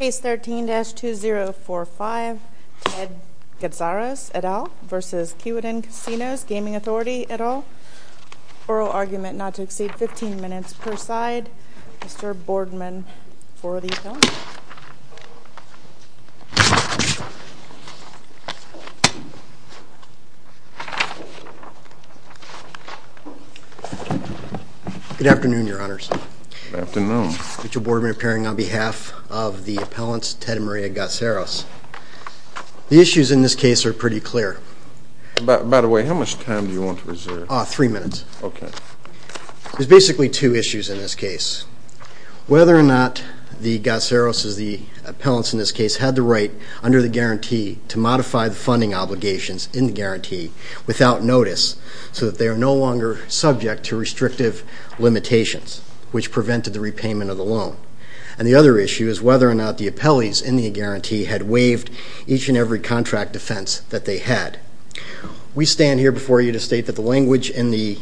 Et al. Oral argument not to exceed 15 minutes per side. Mr. Boardman, for the attorney. Good afternoon, your honors. Good afternoon. Mr. Boardman appearing on behalf of the appellants Ted and Maria Gatzaros. The issues in this case are pretty clear. By the way, how much time do you want to reserve? Three minutes. Okay. There's basically two issues in this case. Whether or not the Gatzaros's, the appellants in this case, had the right under the guarantee to modify the funding obligations in the guarantee without notice so that they are no longer subject to restrictive limitations, which prevented the repayment of the loan. And the other issue is whether or not the appellees in the guarantee had waived each and every contract defense that they had. We stand here before you to state that the language in the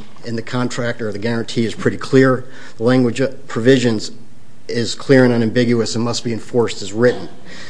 contract or the guarantee is pretty clear. The language provisions is clear and unambiguous and must be enforced as written.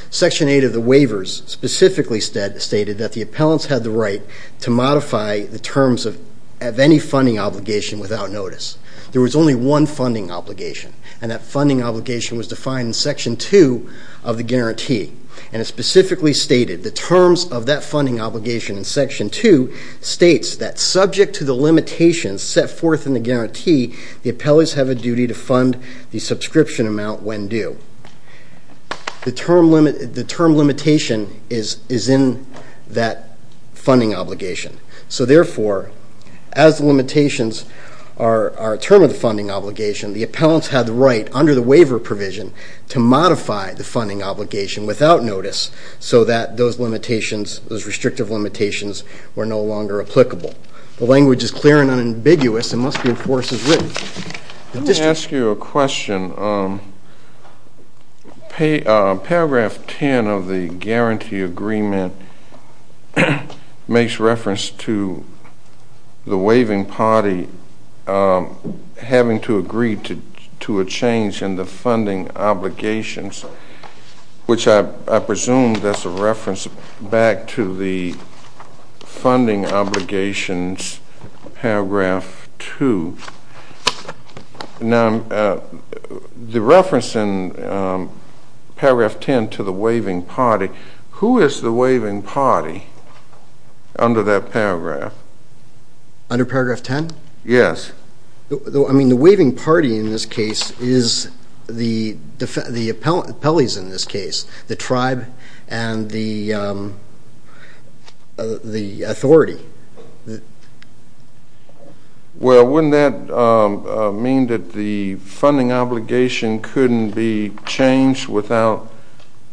Section 8 of the waivers specifically stated that the appellants had the right to modify the terms of any funding obligation without notice. There was only one funding obligation, and that funding obligation was defined in Section 2 of the guarantee. And it specifically stated the terms of that funding obligation in Section 2 states that subject to the limitations set forth in the guarantee, the appellees have a duty to fund the subscription amount when due. The term limitation is in that funding obligation. So therefore, as the limitations are a term of the funding obligation, the appellants had the right under the waiver provision to modify the funding obligation without notice so that those limitations, those restrictive limitations, were no longer applicable. The language is clear and unambiguous and must be enforced as written. Let me ask you a question. Paragraph 10 of the guarantee agreement makes reference to the waiving party having to agree to a change in the funding obligations, which I presume that's a reference back to the funding obligations, paragraph 2. Now, the reference in paragraph 10 to the waiving party, who is the waiving party under that paragraph? Under paragraph 10? Yes. I mean, the waiving party in this case is the appellees in this case, the tribe and the authority. Well, wouldn't that mean that the funding obligation couldn't be changed without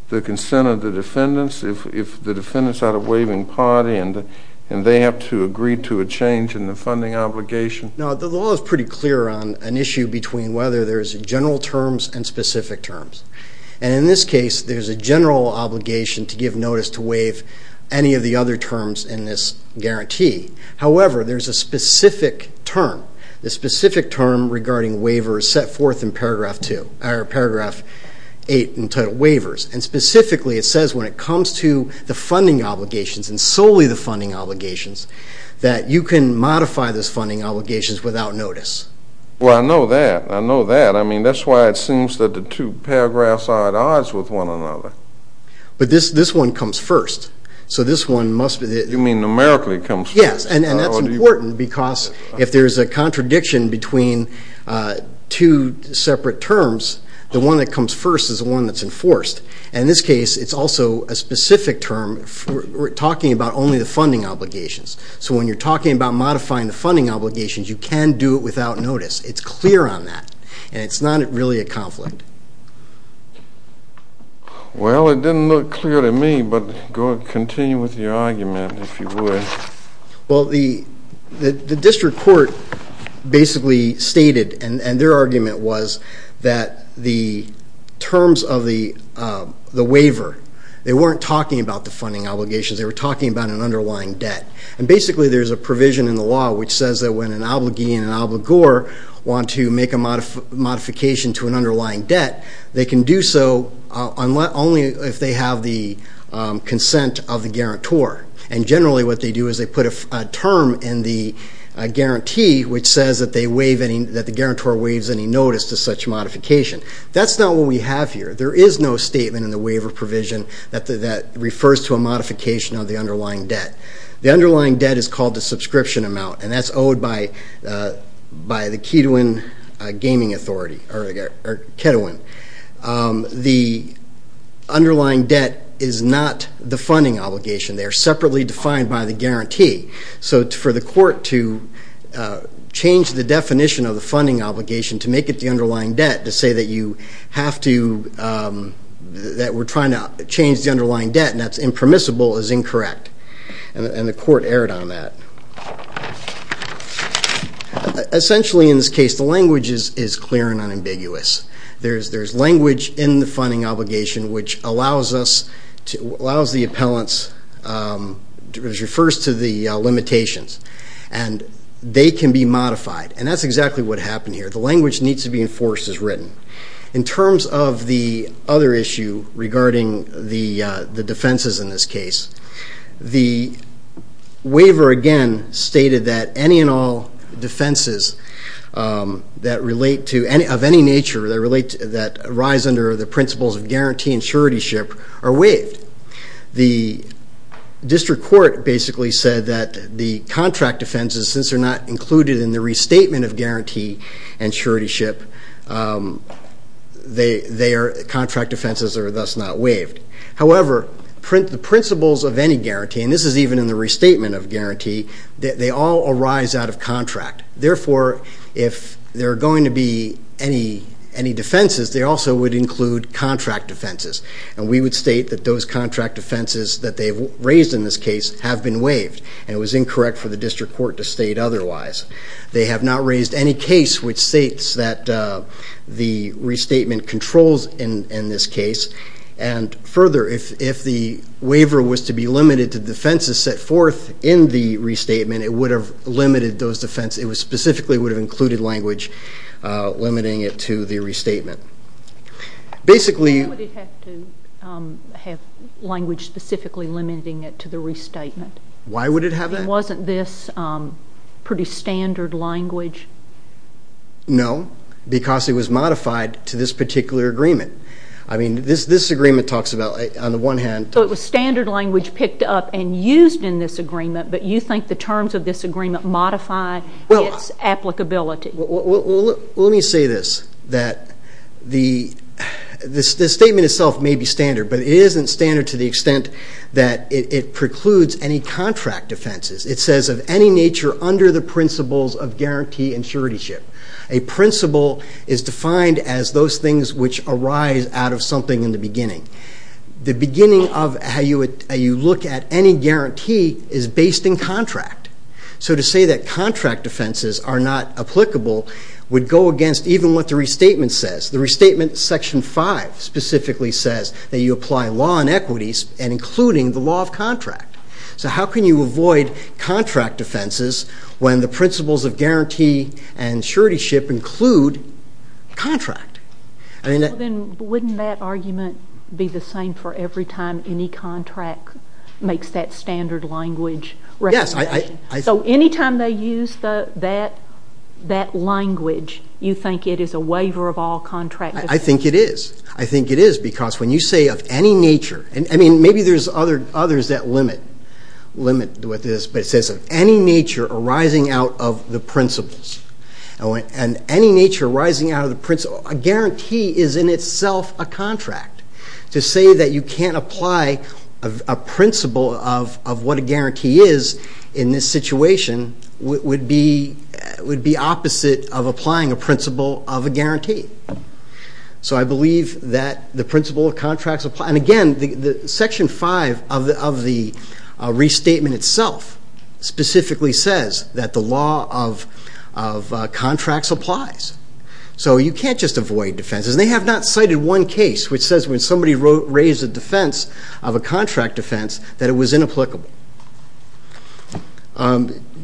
the consent of the defendants? If the defendants are the waiving party and they have to agree to a change in the funding obligation? No, the law is pretty clear on an issue between whether there's general terms and specific terms. And in this case, there's a general obligation to give notice to waive any of the other terms in this guarantee. However, there's a specific term. The specific term regarding waivers set forth in paragraph 2, or paragraph 8 entitled waivers. And specifically, it says when it comes to the funding obligations and solely the funding obligations, that you can modify those funding obligations without notice. Well, I know that. I know that. I mean, that's why it seems that the two paragraphs are at odds with one another. But this one comes first. So this one must be the – You mean numerically comes first? Yes, and that's important because if there's a contradiction between two separate terms, the one that comes first is the one that's enforced. And in this case, it's also a specific term. We're talking about only the funding obligations. So when you're talking about modifying the funding obligations, you can do it without notice. It's clear on that. And it's not really a conflict. Well, it didn't look clear to me, but continue with your argument, if you would. Well, the district court basically stated, and their argument was, that the terms of the waiver, they weren't talking about the funding obligations. They were talking about an underlying debt. And basically, there's a provision in the law which says that when an obligee and an obligor want to make a modification to an underlying debt, they can do so only if they have the consent of the guarantor. And generally, what they do is they put a term in the guarantee which says that the guarantor waives any notice to such modification. That's not what we have here. There is no statement in the waiver provision that refers to a modification of the underlying debt. The underlying debt is called the subscription amount, and that's owed by the Ketowin Gaming Authority, or Ketowin. The underlying debt is not the funding obligation. They are separately defined by the guarantee. So for the court to change the definition of the funding obligation to make it the underlying debt, to say that you have to, that we're trying to change the underlying debt and that's impermissible, is incorrect. And the court erred on that. Essentially, in this case, the language is clear and unambiguous. There's language in the funding obligation which allows the appellants, refers to the limitations, and they can be modified. And that's exactly what happened here. The language needs to be enforced as written. In terms of the other issue regarding the defenses in this case, the waiver, again, stated that any and all defenses that relate to, of any nature, that arise under the principles of guarantee and suretyship are waived. The district court basically said that the contract defenses, since they're not included in the restatement of guarantee and suretyship, their contract defenses are thus not waived. However, the principles of any guarantee, and this is even in the restatement of guarantee, they all arise out of contract. Therefore, if there are going to be any defenses, they also would include contract defenses. And we would state that those contract defenses that they've raised in this case have been waived. And it was incorrect for the district court to state otherwise. They have not raised any case which states that the restatement controls in this case. And further, if the waiver was to be limited to defenses set forth in the restatement, it would have limited those defenses. It specifically would have included language limiting it to the restatement. Why would it have to have language specifically limiting it to the restatement? Why would it have that? I mean, wasn't this pretty standard language? No, because it was modified to this particular agreement. I mean, this agreement talks about, on the one hand. So it was standard language picked up and used in this agreement, but you think the terms of this agreement modify its applicability. Well, let me say this, that the statement itself may be standard, but it isn't standard to the extent that it precludes any contract defenses. It says of any nature under the principles of guarantee and suretyship, a principle is defined as those things which arise out of something in the beginning. The beginning of how you look at any guarantee is based in contract. So to say that contract defenses are not applicable would go against even what the restatement says. The restatement, Section 5, specifically says that you apply law and equities, and including the law of contract. So how can you avoid contract defenses when the principles of guarantee and suretyship include contract? Well, then, wouldn't that argument be the same for every time any contract makes that standard language recommendation? Yes. So any time they use that language, you think it is a waiver of all contract defenses? I think it is. I think it is, because when you say of any nature, and, I mean, maybe there's others that limit what this is, but it says of any nature arising out of the principles, and any nature arising out of the principles, a guarantee is in itself a contract. To say that you can't apply a principle of what a guarantee is in this situation would be opposite of applying a principle of a guarantee. So I believe that the principle of contracts applies. And, again, Section 5 of the restatement itself specifically says that the law of contracts applies. So you can't just avoid defenses. They have not cited one case which says when somebody raised a defense of a contract defense that it was inapplicable.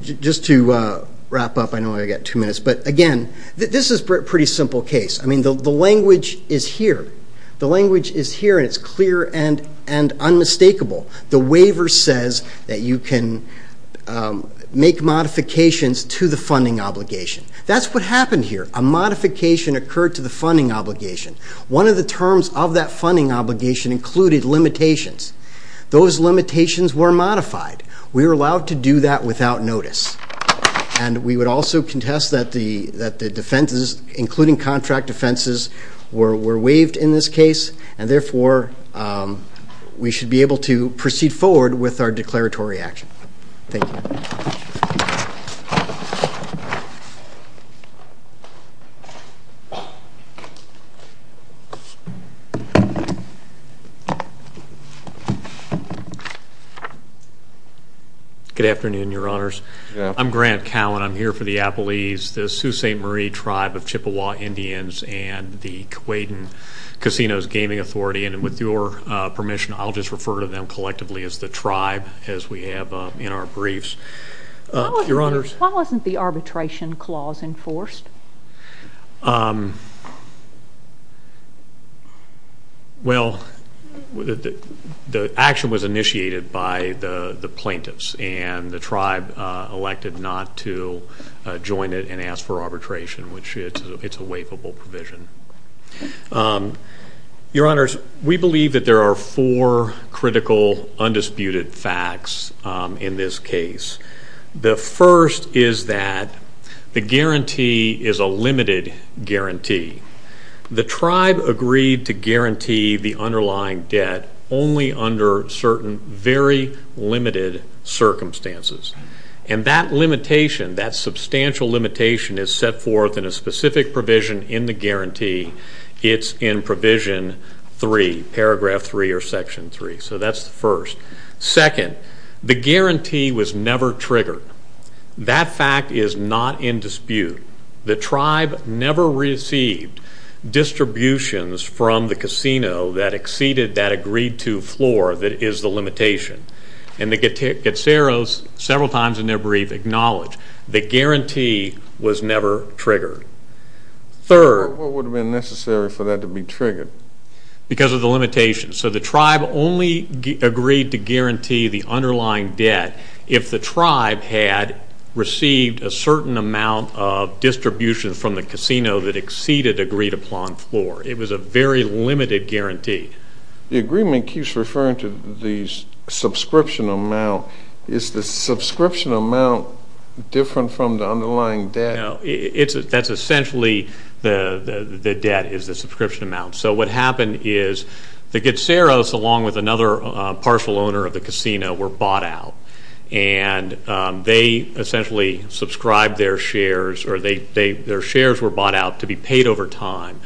Just to wrap up, I know I've got two minutes, but, again, this is a pretty simple case. I mean, the language is here. The language is here, and it's clear and unmistakable. The waiver says that you can make modifications to the funding obligation. That's what happened here. A modification occurred to the funding obligation. One of the terms of that funding obligation included limitations. Those limitations were modified. We were allowed to do that without notice. And we would also contest that the defenses, including contract defenses, were waived in this case, and, therefore, we should be able to proceed forward with our declaratory action. Thank you. Thank you. Good afternoon, Your Honors. I'm Grant Cowan. I'm here for the Appalese, the Sault Ste. Marie tribe of Chippewa Indians, and the Quaden Casinos Gaming Authority. And with your permission, I'll just refer to them collectively as the tribe, as we have in our briefs. Your Honors. Why wasn't the arbitration clause enforced? Well, the action was initiated by the plaintiffs, and the tribe elected not to join it and ask for arbitration, which it's a waivable provision. Your Honors, we believe that there are four critical, undisputed facts in this case. The first is that the guarantee is a limited guarantee. The tribe agreed to guarantee the underlying debt only under certain very limited circumstances. And that limitation, that substantial limitation, is set forth in a specific provision in the guarantee. It's in Provision 3, Paragraph 3 or Section 3. So that's the first. Second, the guarantee was never triggered. That fact is not in dispute. The tribe never received distributions from the casino that exceeded that agreed-to floor that is the limitation. And the Getseros several times in their brief acknowledge the guarantee was never triggered. Third... What would have been necessary for that to be triggered? Because of the limitations. So the tribe only agreed to guarantee the underlying debt if the tribe had received a certain amount of distributions from the casino that exceeded agreed-upon floor. It was a very limited guarantee. The agreement keeps referring to the subscription amount. Is the subscription amount different from the underlying debt? No. That's essentially the debt is the subscription amount. So what happened is the Getseros, along with another partial owner of the casino, were bought out. And they essentially subscribed their shares or their shares were bought out to be paid over time.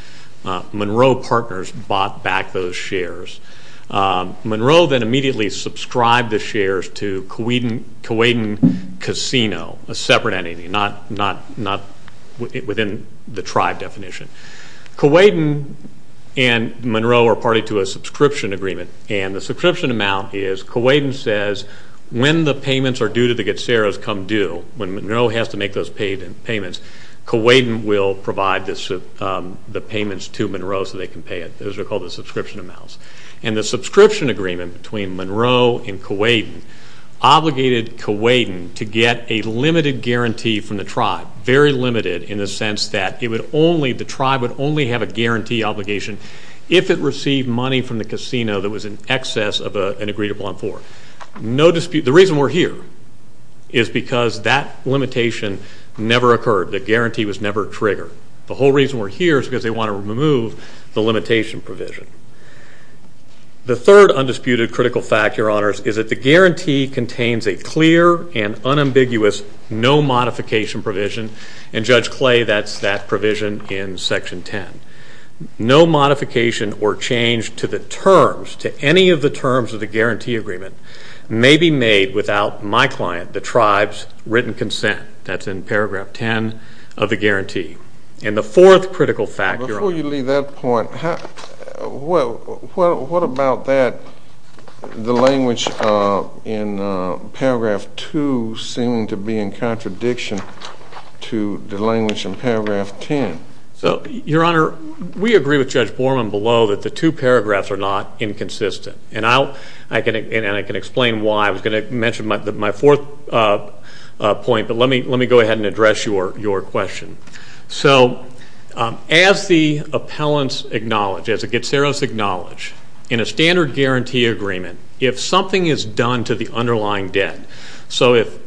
Monroe Partners bought back those shares. Monroe then immediately subscribed the shares to Kuwaitan Casino, a separate entity, not within the tribe definition. Kuwaitan and Monroe are party to a subscription agreement. And the subscription amount is Kuwaitan says when the payments are due to the Getseros come due, when Monroe has to make those payments, Kuwaitan will provide the payments to Monroe so they can pay it. Those are called the subscription amounts. And the subscription agreement between Monroe and Kuwaitan obligated Kuwaitan to get a limited guarantee from the tribe, very limited in the sense that the tribe would only have a guarantee obligation if it received money from the casino that was in excess of an agreed-upon floor. The reason we're here is because that limitation never occurred. The guarantee was never triggered. The whole reason we're here is because they want to remove the limitation provision. The third undisputed critical fact, Your Honors, is that the guarantee contains a clear and unambiguous no modification provision. And Judge Clay, that's that provision in Section 10. No modification or change to the terms, to any of the terms of the guarantee agreement, may be made without my client, the tribe's written consent. That's in paragraph 10 of the guarantee. And the fourth critical fact, Your Honor. Before you leave that point, what about that the language in paragraph 2 seemed to be in contradiction to the language in paragraph 10? So, Your Honor, we agree with Judge Borman below that the two paragraphs are not inconsistent. And I can explain why. I was going to mention my fourth point. But let me go ahead and address your question. So as the appellants acknowledge, as the Getzeros acknowledge, in a standard guarantee agreement, if something is done to the underlying debt, so if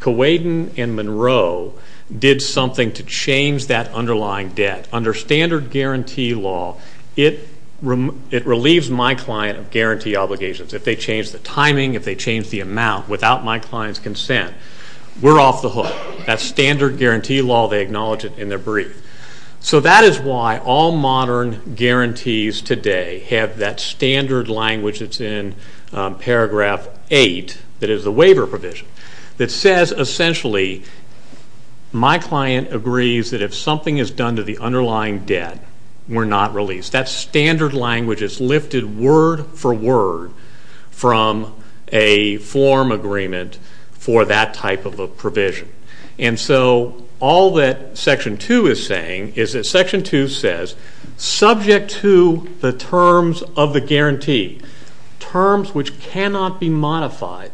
Kowaden and Monroe did something to change that underlying debt under standard guarantee law, it relieves my client of guarantee obligations. If they change the timing, if they change the amount without my client's consent, we're off the hook. That's standard guarantee law. They acknowledge it in their brief. So that is why all modern guarantees today have that standard language that's in paragraph 8, that is the waiver provision, that says essentially my client agrees that if something is done to the underlying debt, we're not released. That standard language is lifted word for word from a form agreement for that type of a provision. And so all that Section 2 is saying is that Section 2 says subject to the terms of the guarantee, terms which cannot be modified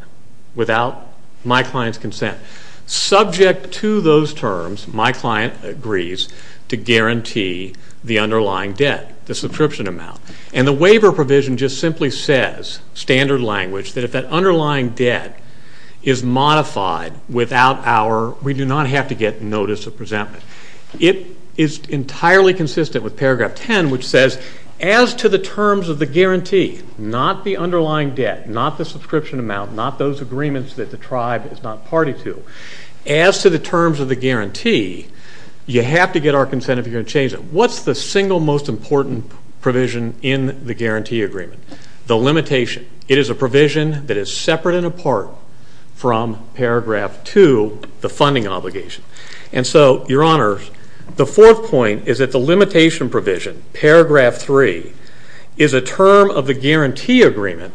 without my client's consent, subject to those terms, my client agrees to guarantee the underlying debt, the subscription amount. And the waiver provision just simply says, standard language, that if that underlying debt is modified without our, we do not have to get notice of presentment. It is entirely consistent with paragraph 10, which says as to the terms of the guarantee, not the underlying debt, not the subscription amount, not those agreements that the tribe is not party to, as to the terms of the guarantee, you have to get our consent if you're going to change it. What's the single most important provision in the guarantee agreement? The limitation. It is a provision that is separate and apart from paragraph 2, the funding obligation. And so, your honors, the fourth point is that the limitation provision, paragraph 3, is a term of the guarantee agreement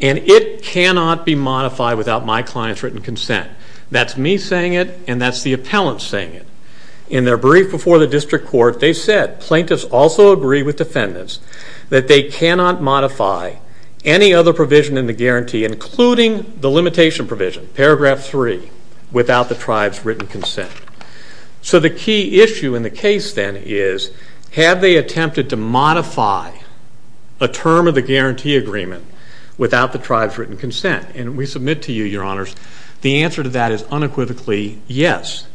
and it cannot be modified without my client's written consent. That's me saying it and that's the appellant saying it. In their brief before the district court, they said, plaintiffs also agree with defendants, that they cannot modify any other provision in the guarantee, including the limitation provision, paragraph 3, without the tribe's written consent. So the key issue in the case then is, have they attempted to modify a term of the guarantee agreement without the tribe's written consent? And we submit to you, your honors, the answer to that is unequivocally yes.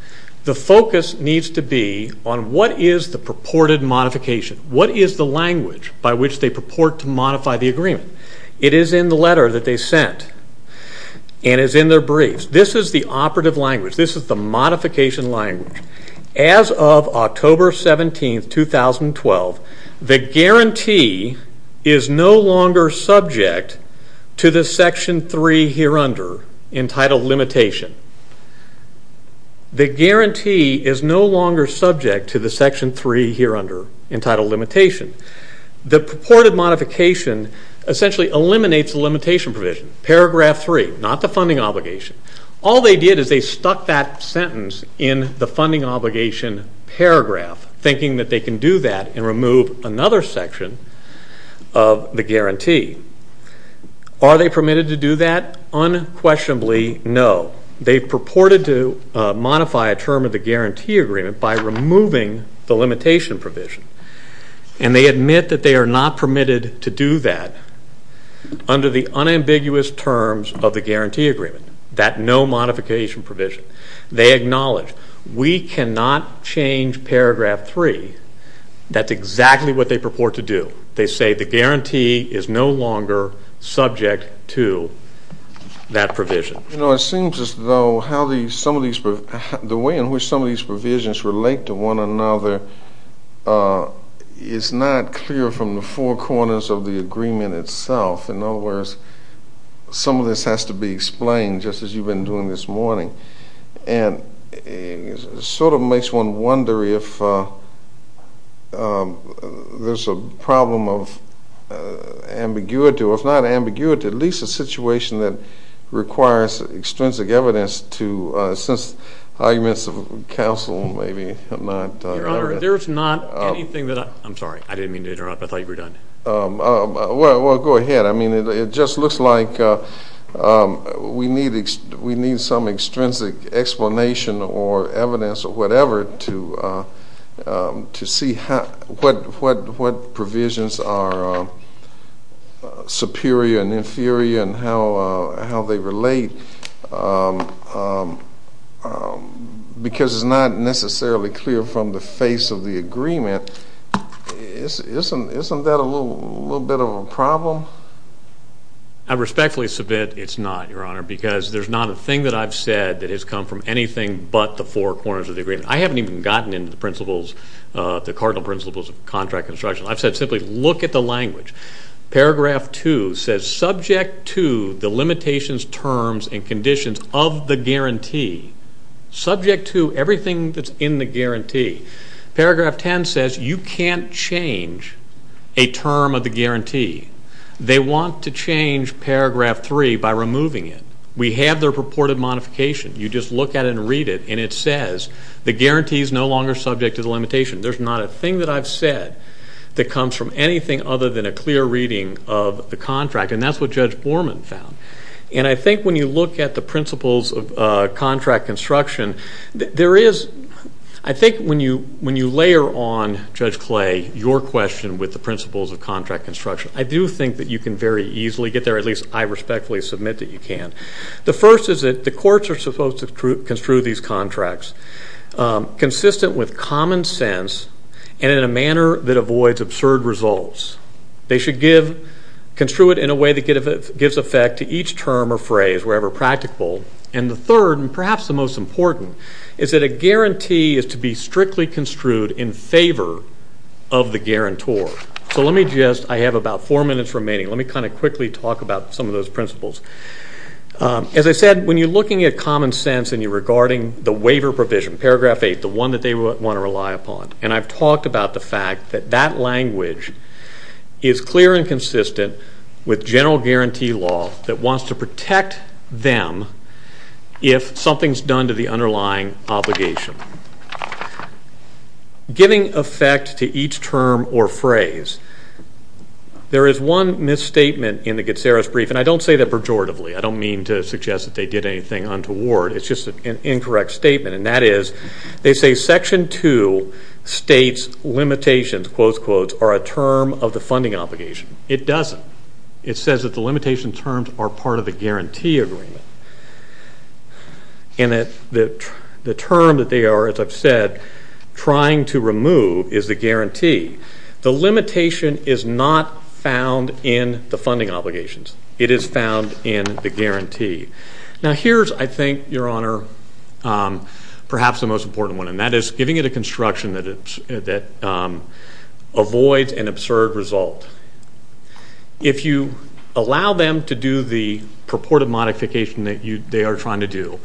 The focus needs to be on what is the purported modification? What is the language by which they purport to modify the agreement? It is in the letter that they sent and is in their briefs. This is the operative language. This is the modification language. As of October 17, 2012, the guarantee is no longer subject to the section 3 here under, entitled limitation. The purported modification essentially eliminates the limitation provision. Paragraph 3, not the funding obligation. All they did is they stuck that sentence in the funding obligation paragraph, thinking that they can do that and remove another section of the guarantee. Are they permitted to do that? Unquestionably no. They purported to modify a term of the guarantee agreement by removing the limitation provision, and they admit that they are not permitted to do that under the unambiguous terms of the guarantee agreement, that no modification provision. They acknowledge we cannot change paragraph 3. That's exactly what they purport to do. They say the guarantee is no longer subject to that provision. You know, it seems as though the way in which some of these provisions relate to one another is not clear from the four corners of the agreement itself. In other words, some of this has to be explained, just as you've been doing this morning. And it sort of makes one wonder if there's a problem of ambiguity, or if not ambiguity, at least a situation that requires extrinsic evidence to assist arguments of counsel, maybe. Your Honor, there's not anything that I'm sorry. I didn't mean to interrupt. I thought you were done. Well, go ahead. I mean, it just looks like we need some extrinsic explanation or evidence or whatever to see what provisions are superior and inferior and how they relate, because it's not necessarily clear from the face of the agreement. Isn't that a little bit of a problem? I respectfully submit it's not, Your Honor, because there's not a thing that I've said that has come from anything but the four corners of the agreement. I haven't even gotten into the principles, the cardinal principles of contract construction. I've said simply look at the language. Paragraph 2 says subject to the limitations, terms, and conditions of the guarantee, subject to everything that's in the guarantee. Paragraph 10 says you can't change a term of the guarantee. They want to change Paragraph 3 by removing it. We have their purported modification. You just look at it and read it, and it says the guarantee is no longer subject to the limitation. There's not a thing that I've said that comes from anything other than a clear reading of the contract, and that's what Judge Borman found. And I think when you look at the principles of contract construction, I think when you layer on, Judge Clay, your question with the principles of contract construction, I do think that you can very easily get there, at least I respectfully submit that you can. The first is that the courts are supposed to construe these contracts consistent with common sense and in a manner that avoids absurd results. They should construe it in a way that gives effect to each term or phrase, wherever practical. And the third, and perhaps the most important, is that a guarantee is to be strictly construed in favor of the guarantor. So let me just, I have about four minutes remaining, let me kind of quickly talk about some of those principles. As I said, when you're looking at common sense and you're regarding the waiver provision, Paragraph 8, the one that they want to rely upon, and I've talked about the fact that that language is clear and consistent with general guarantee law that wants to protect them if something's done to the underlying obligation. Giving effect to each term or phrase. There is one misstatement in the Getzeris brief, and I don't say that pejoratively, I don't mean to suggest that they did anything untoward, it's just an incorrect statement, and that is they say Section 2 states limitations are a term of the funding obligation. It doesn't. It says that the limitation terms are part of the guarantee agreement. And that the term that they are, as I've said, trying to remove is the guarantee. The limitation is not found in the funding obligations. It is found in the guarantee. Now here's, I think, Your Honor, perhaps the most important one, and that is giving it a construction that avoids an absurd result. If you allow them to do the purported modification that they are trying to do,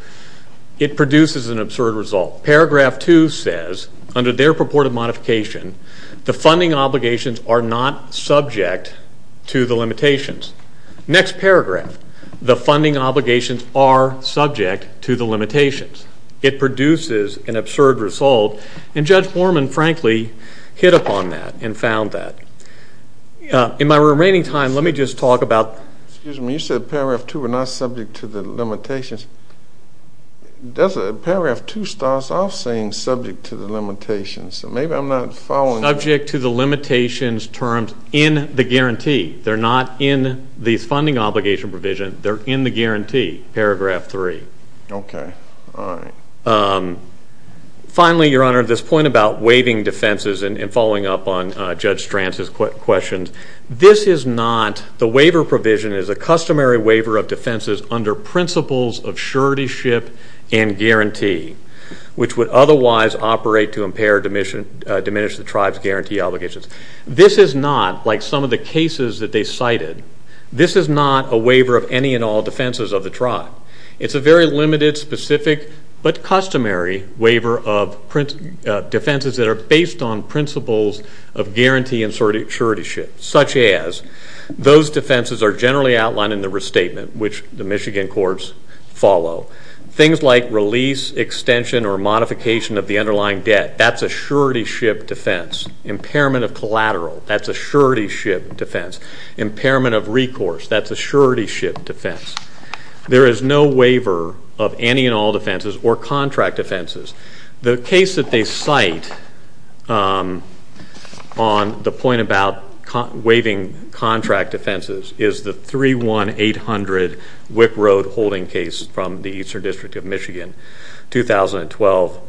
it produces an absurd result. Paragraph 2 says, under their purported modification, the funding obligations are not subject to the limitations. Next paragraph, the funding obligations are subject to the limitations. It produces an absurd result, and Judge Foreman, frankly, hit upon that and found that. In my remaining time, let me just talk about. Excuse me. You said paragraph 2 were not subject to the limitations. Paragraph 2 starts off saying subject to the limitations, so maybe I'm not following. Subject to the limitations terms in the guarantee. They're not in the funding obligation provision. They're in the guarantee, paragraph 3. Okay. All right. Finally, Your Honor, this point about waiving defenses and following up on Judge Stranz's questions, this is not the waiver provision. It is a customary waiver of defenses under principles of suretyship and guarantee, which would otherwise operate to impair or diminish the tribe's guarantee obligations. This is not, like some of the cases that they cited, this is not a waiver of any and all defenses of the tribe. It's a very limited, specific, but customary waiver of defenses that are based on principles of guarantee and suretyship, such as those defenses are generally outlined in the restatement, which the Michigan courts follow. Things like release, extension, or modification of the underlying debt, that's a suretyship defense. Impairment of collateral, that's a suretyship defense. Impairment of recourse, that's a suretyship defense. There is no waiver of any and all defenses or contract defenses. The case that they cite on the point about waiving contract defenses is the 31800 Wick Road holding case from the Eastern District of Michigan, 2012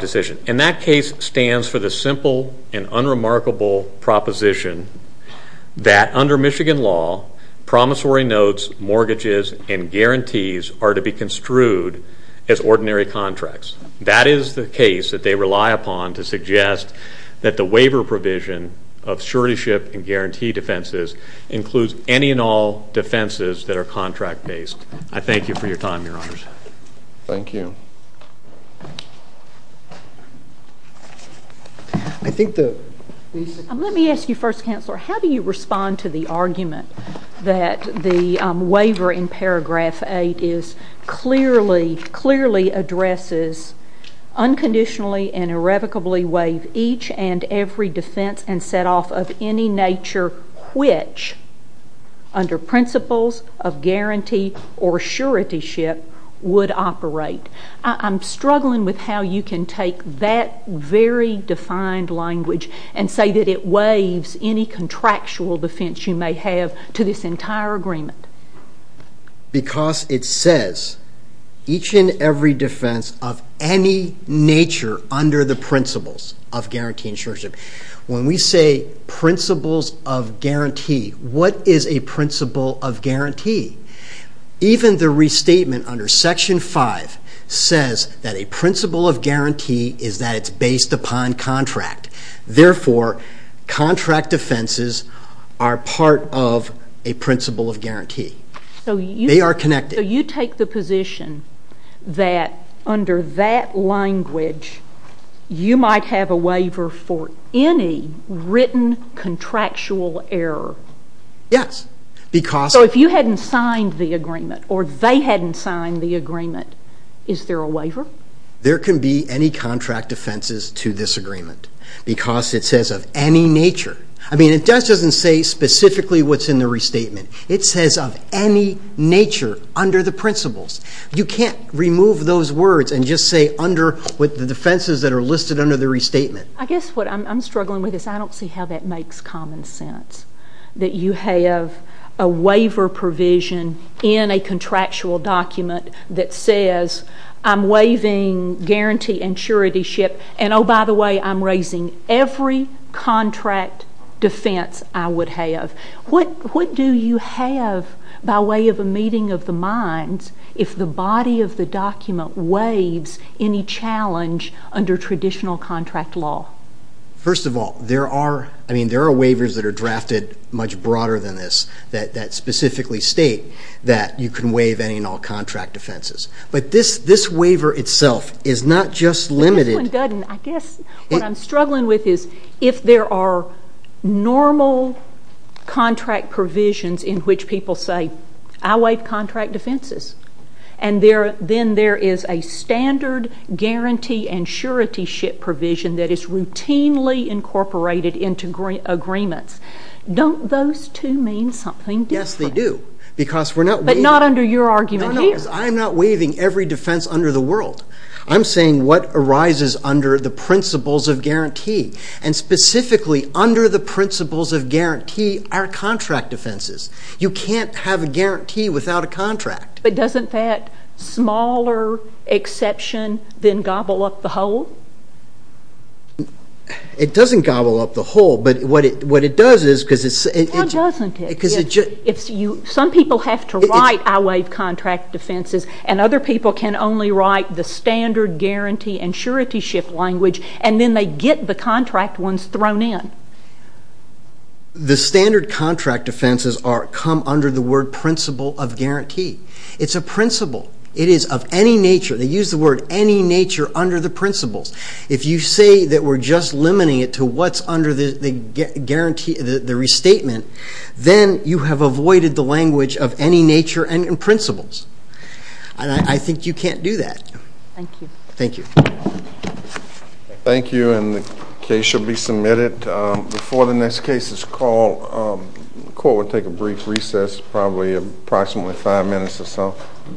decision. And that case stands for the simple and unremarkable proposition that under Michigan law, promissory notes, mortgages, and guarantees are to be construed as ordinary contracts. That is the case that they rely upon to suggest that the waiver provision of suretyship and guarantee defenses includes any and all defenses that are contract-based. I thank you for your time, Your Honors. Thank you. Let me ask you first, Counselor, how do you respond to the argument that the waiver in paragraph 8 clearly addresses unconditionally and irrevocably waive each and every defense and set off of any nature which under principles of guarantee or suretyship would operate? I'm struggling with how you can take that very defined language and say that it waives any contractual defense you may have to this entire agreement. Because it says each and every defense of any nature under the principles of guarantee and surety. When we say principles of guarantee, what is a principle of guarantee? Even the restatement under section 5 says that a principle of guarantee is that it's based upon contract. Therefore, contract defenses are part of a principle of guarantee. They are connected. So you take the position that under that language, you might have a waiver for any written contractual error? Yes. So if you hadn't signed the agreement or they hadn't signed the agreement, is there a waiver? There can be any contract defenses to this agreement because it says of any nature. I mean, it doesn't say specifically what's in the restatement. It says of any nature under the principles. You can't remove those words and just say under the defenses that are listed under the restatement. I guess what I'm struggling with is I don't see how that makes common sense that you have a waiver provision in a contractual document that says I'm waiving guarantee and surety ship, and oh, by the way, I'm raising every contract defense I would have. What do you have by way of a meeting of the minds if the body of the document waives any challenge under traditional contract law? First of all, there are waivers that are drafted much broader than this that specifically state that you can waive any and all contract defenses. But this waiver itself is not just limited. But this one doesn't. I guess what I'm struggling with is if there are normal contract provisions in which people say I waive contract defenses, and then there is a standard guarantee and surety ship provision that is routinely incorporated into agreements, don't those two mean something different? Yes, they do because we're not waiving. But not under your argument here. I'm not waiving every defense under the world. I'm saying what arises under the principles of guarantee, and specifically under the principles of guarantee are contract defenses. You can't have a guarantee without a contract. But doesn't that smaller exception then gobble up the whole? It doesn't gobble up the whole, but what it does is because it's just... Why doesn't it? Some people have to write I waive contract defenses, and other people can only write the standard guarantee and surety ship language, and then they get the contract ones thrown in. The standard contract defenses come under the word principle of guarantee. It's a principle. It is of any nature, they use the word any nature, under the principles. If you say that we're just limiting it to what's under the restatement, then you have avoided the language of any nature and principles, and I think you can't do that. Thank you. Thank you. Thank you, and the case should be submitted. Before the next case is called, The court will take a brief recess, probably approximately five minutes or so. Thank you.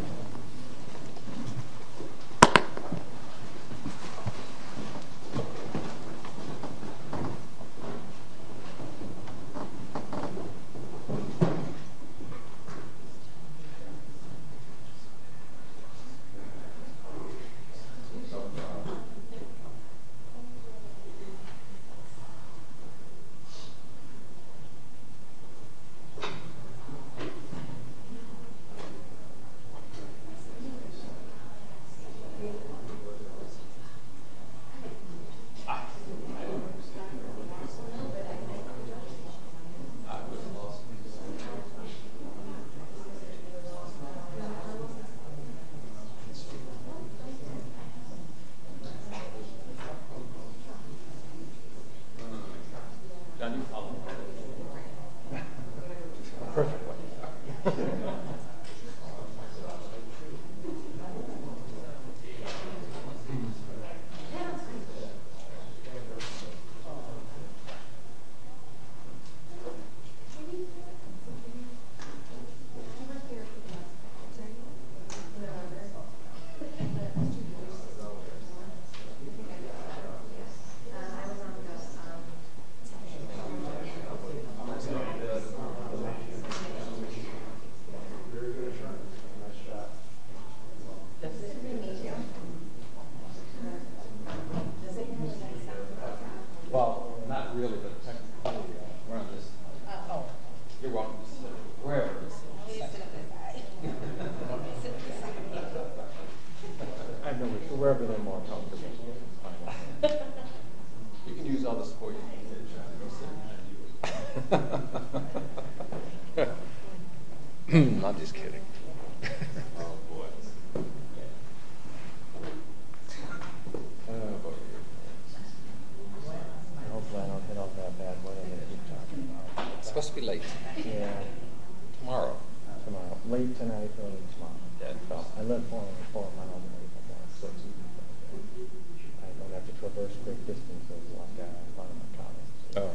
Perfect. Thank you. I'm just kidding. It's supposed to be late. Yeah. Tomorrow. Late tonight, early tomorrow. I live far away from home. I don't have to traverse great distances like a lot of my colleagues. Oh.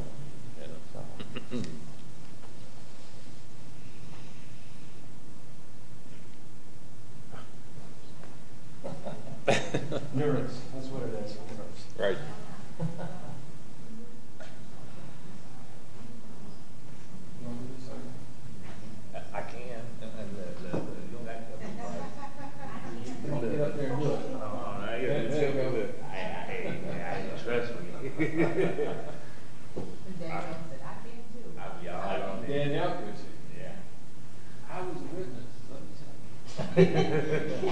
Neuros. That's what it is. Right. I can't. I'm going to get up there and look. Oh, no, you're going to take a look. Hey, man, I didn't stress for you. I'll be all right. Yeah. I was a witness. Yeah. Yeah. Yeah. Yeah. Yeah. Yeah. Yeah. Yeah. Yeah. Yeah.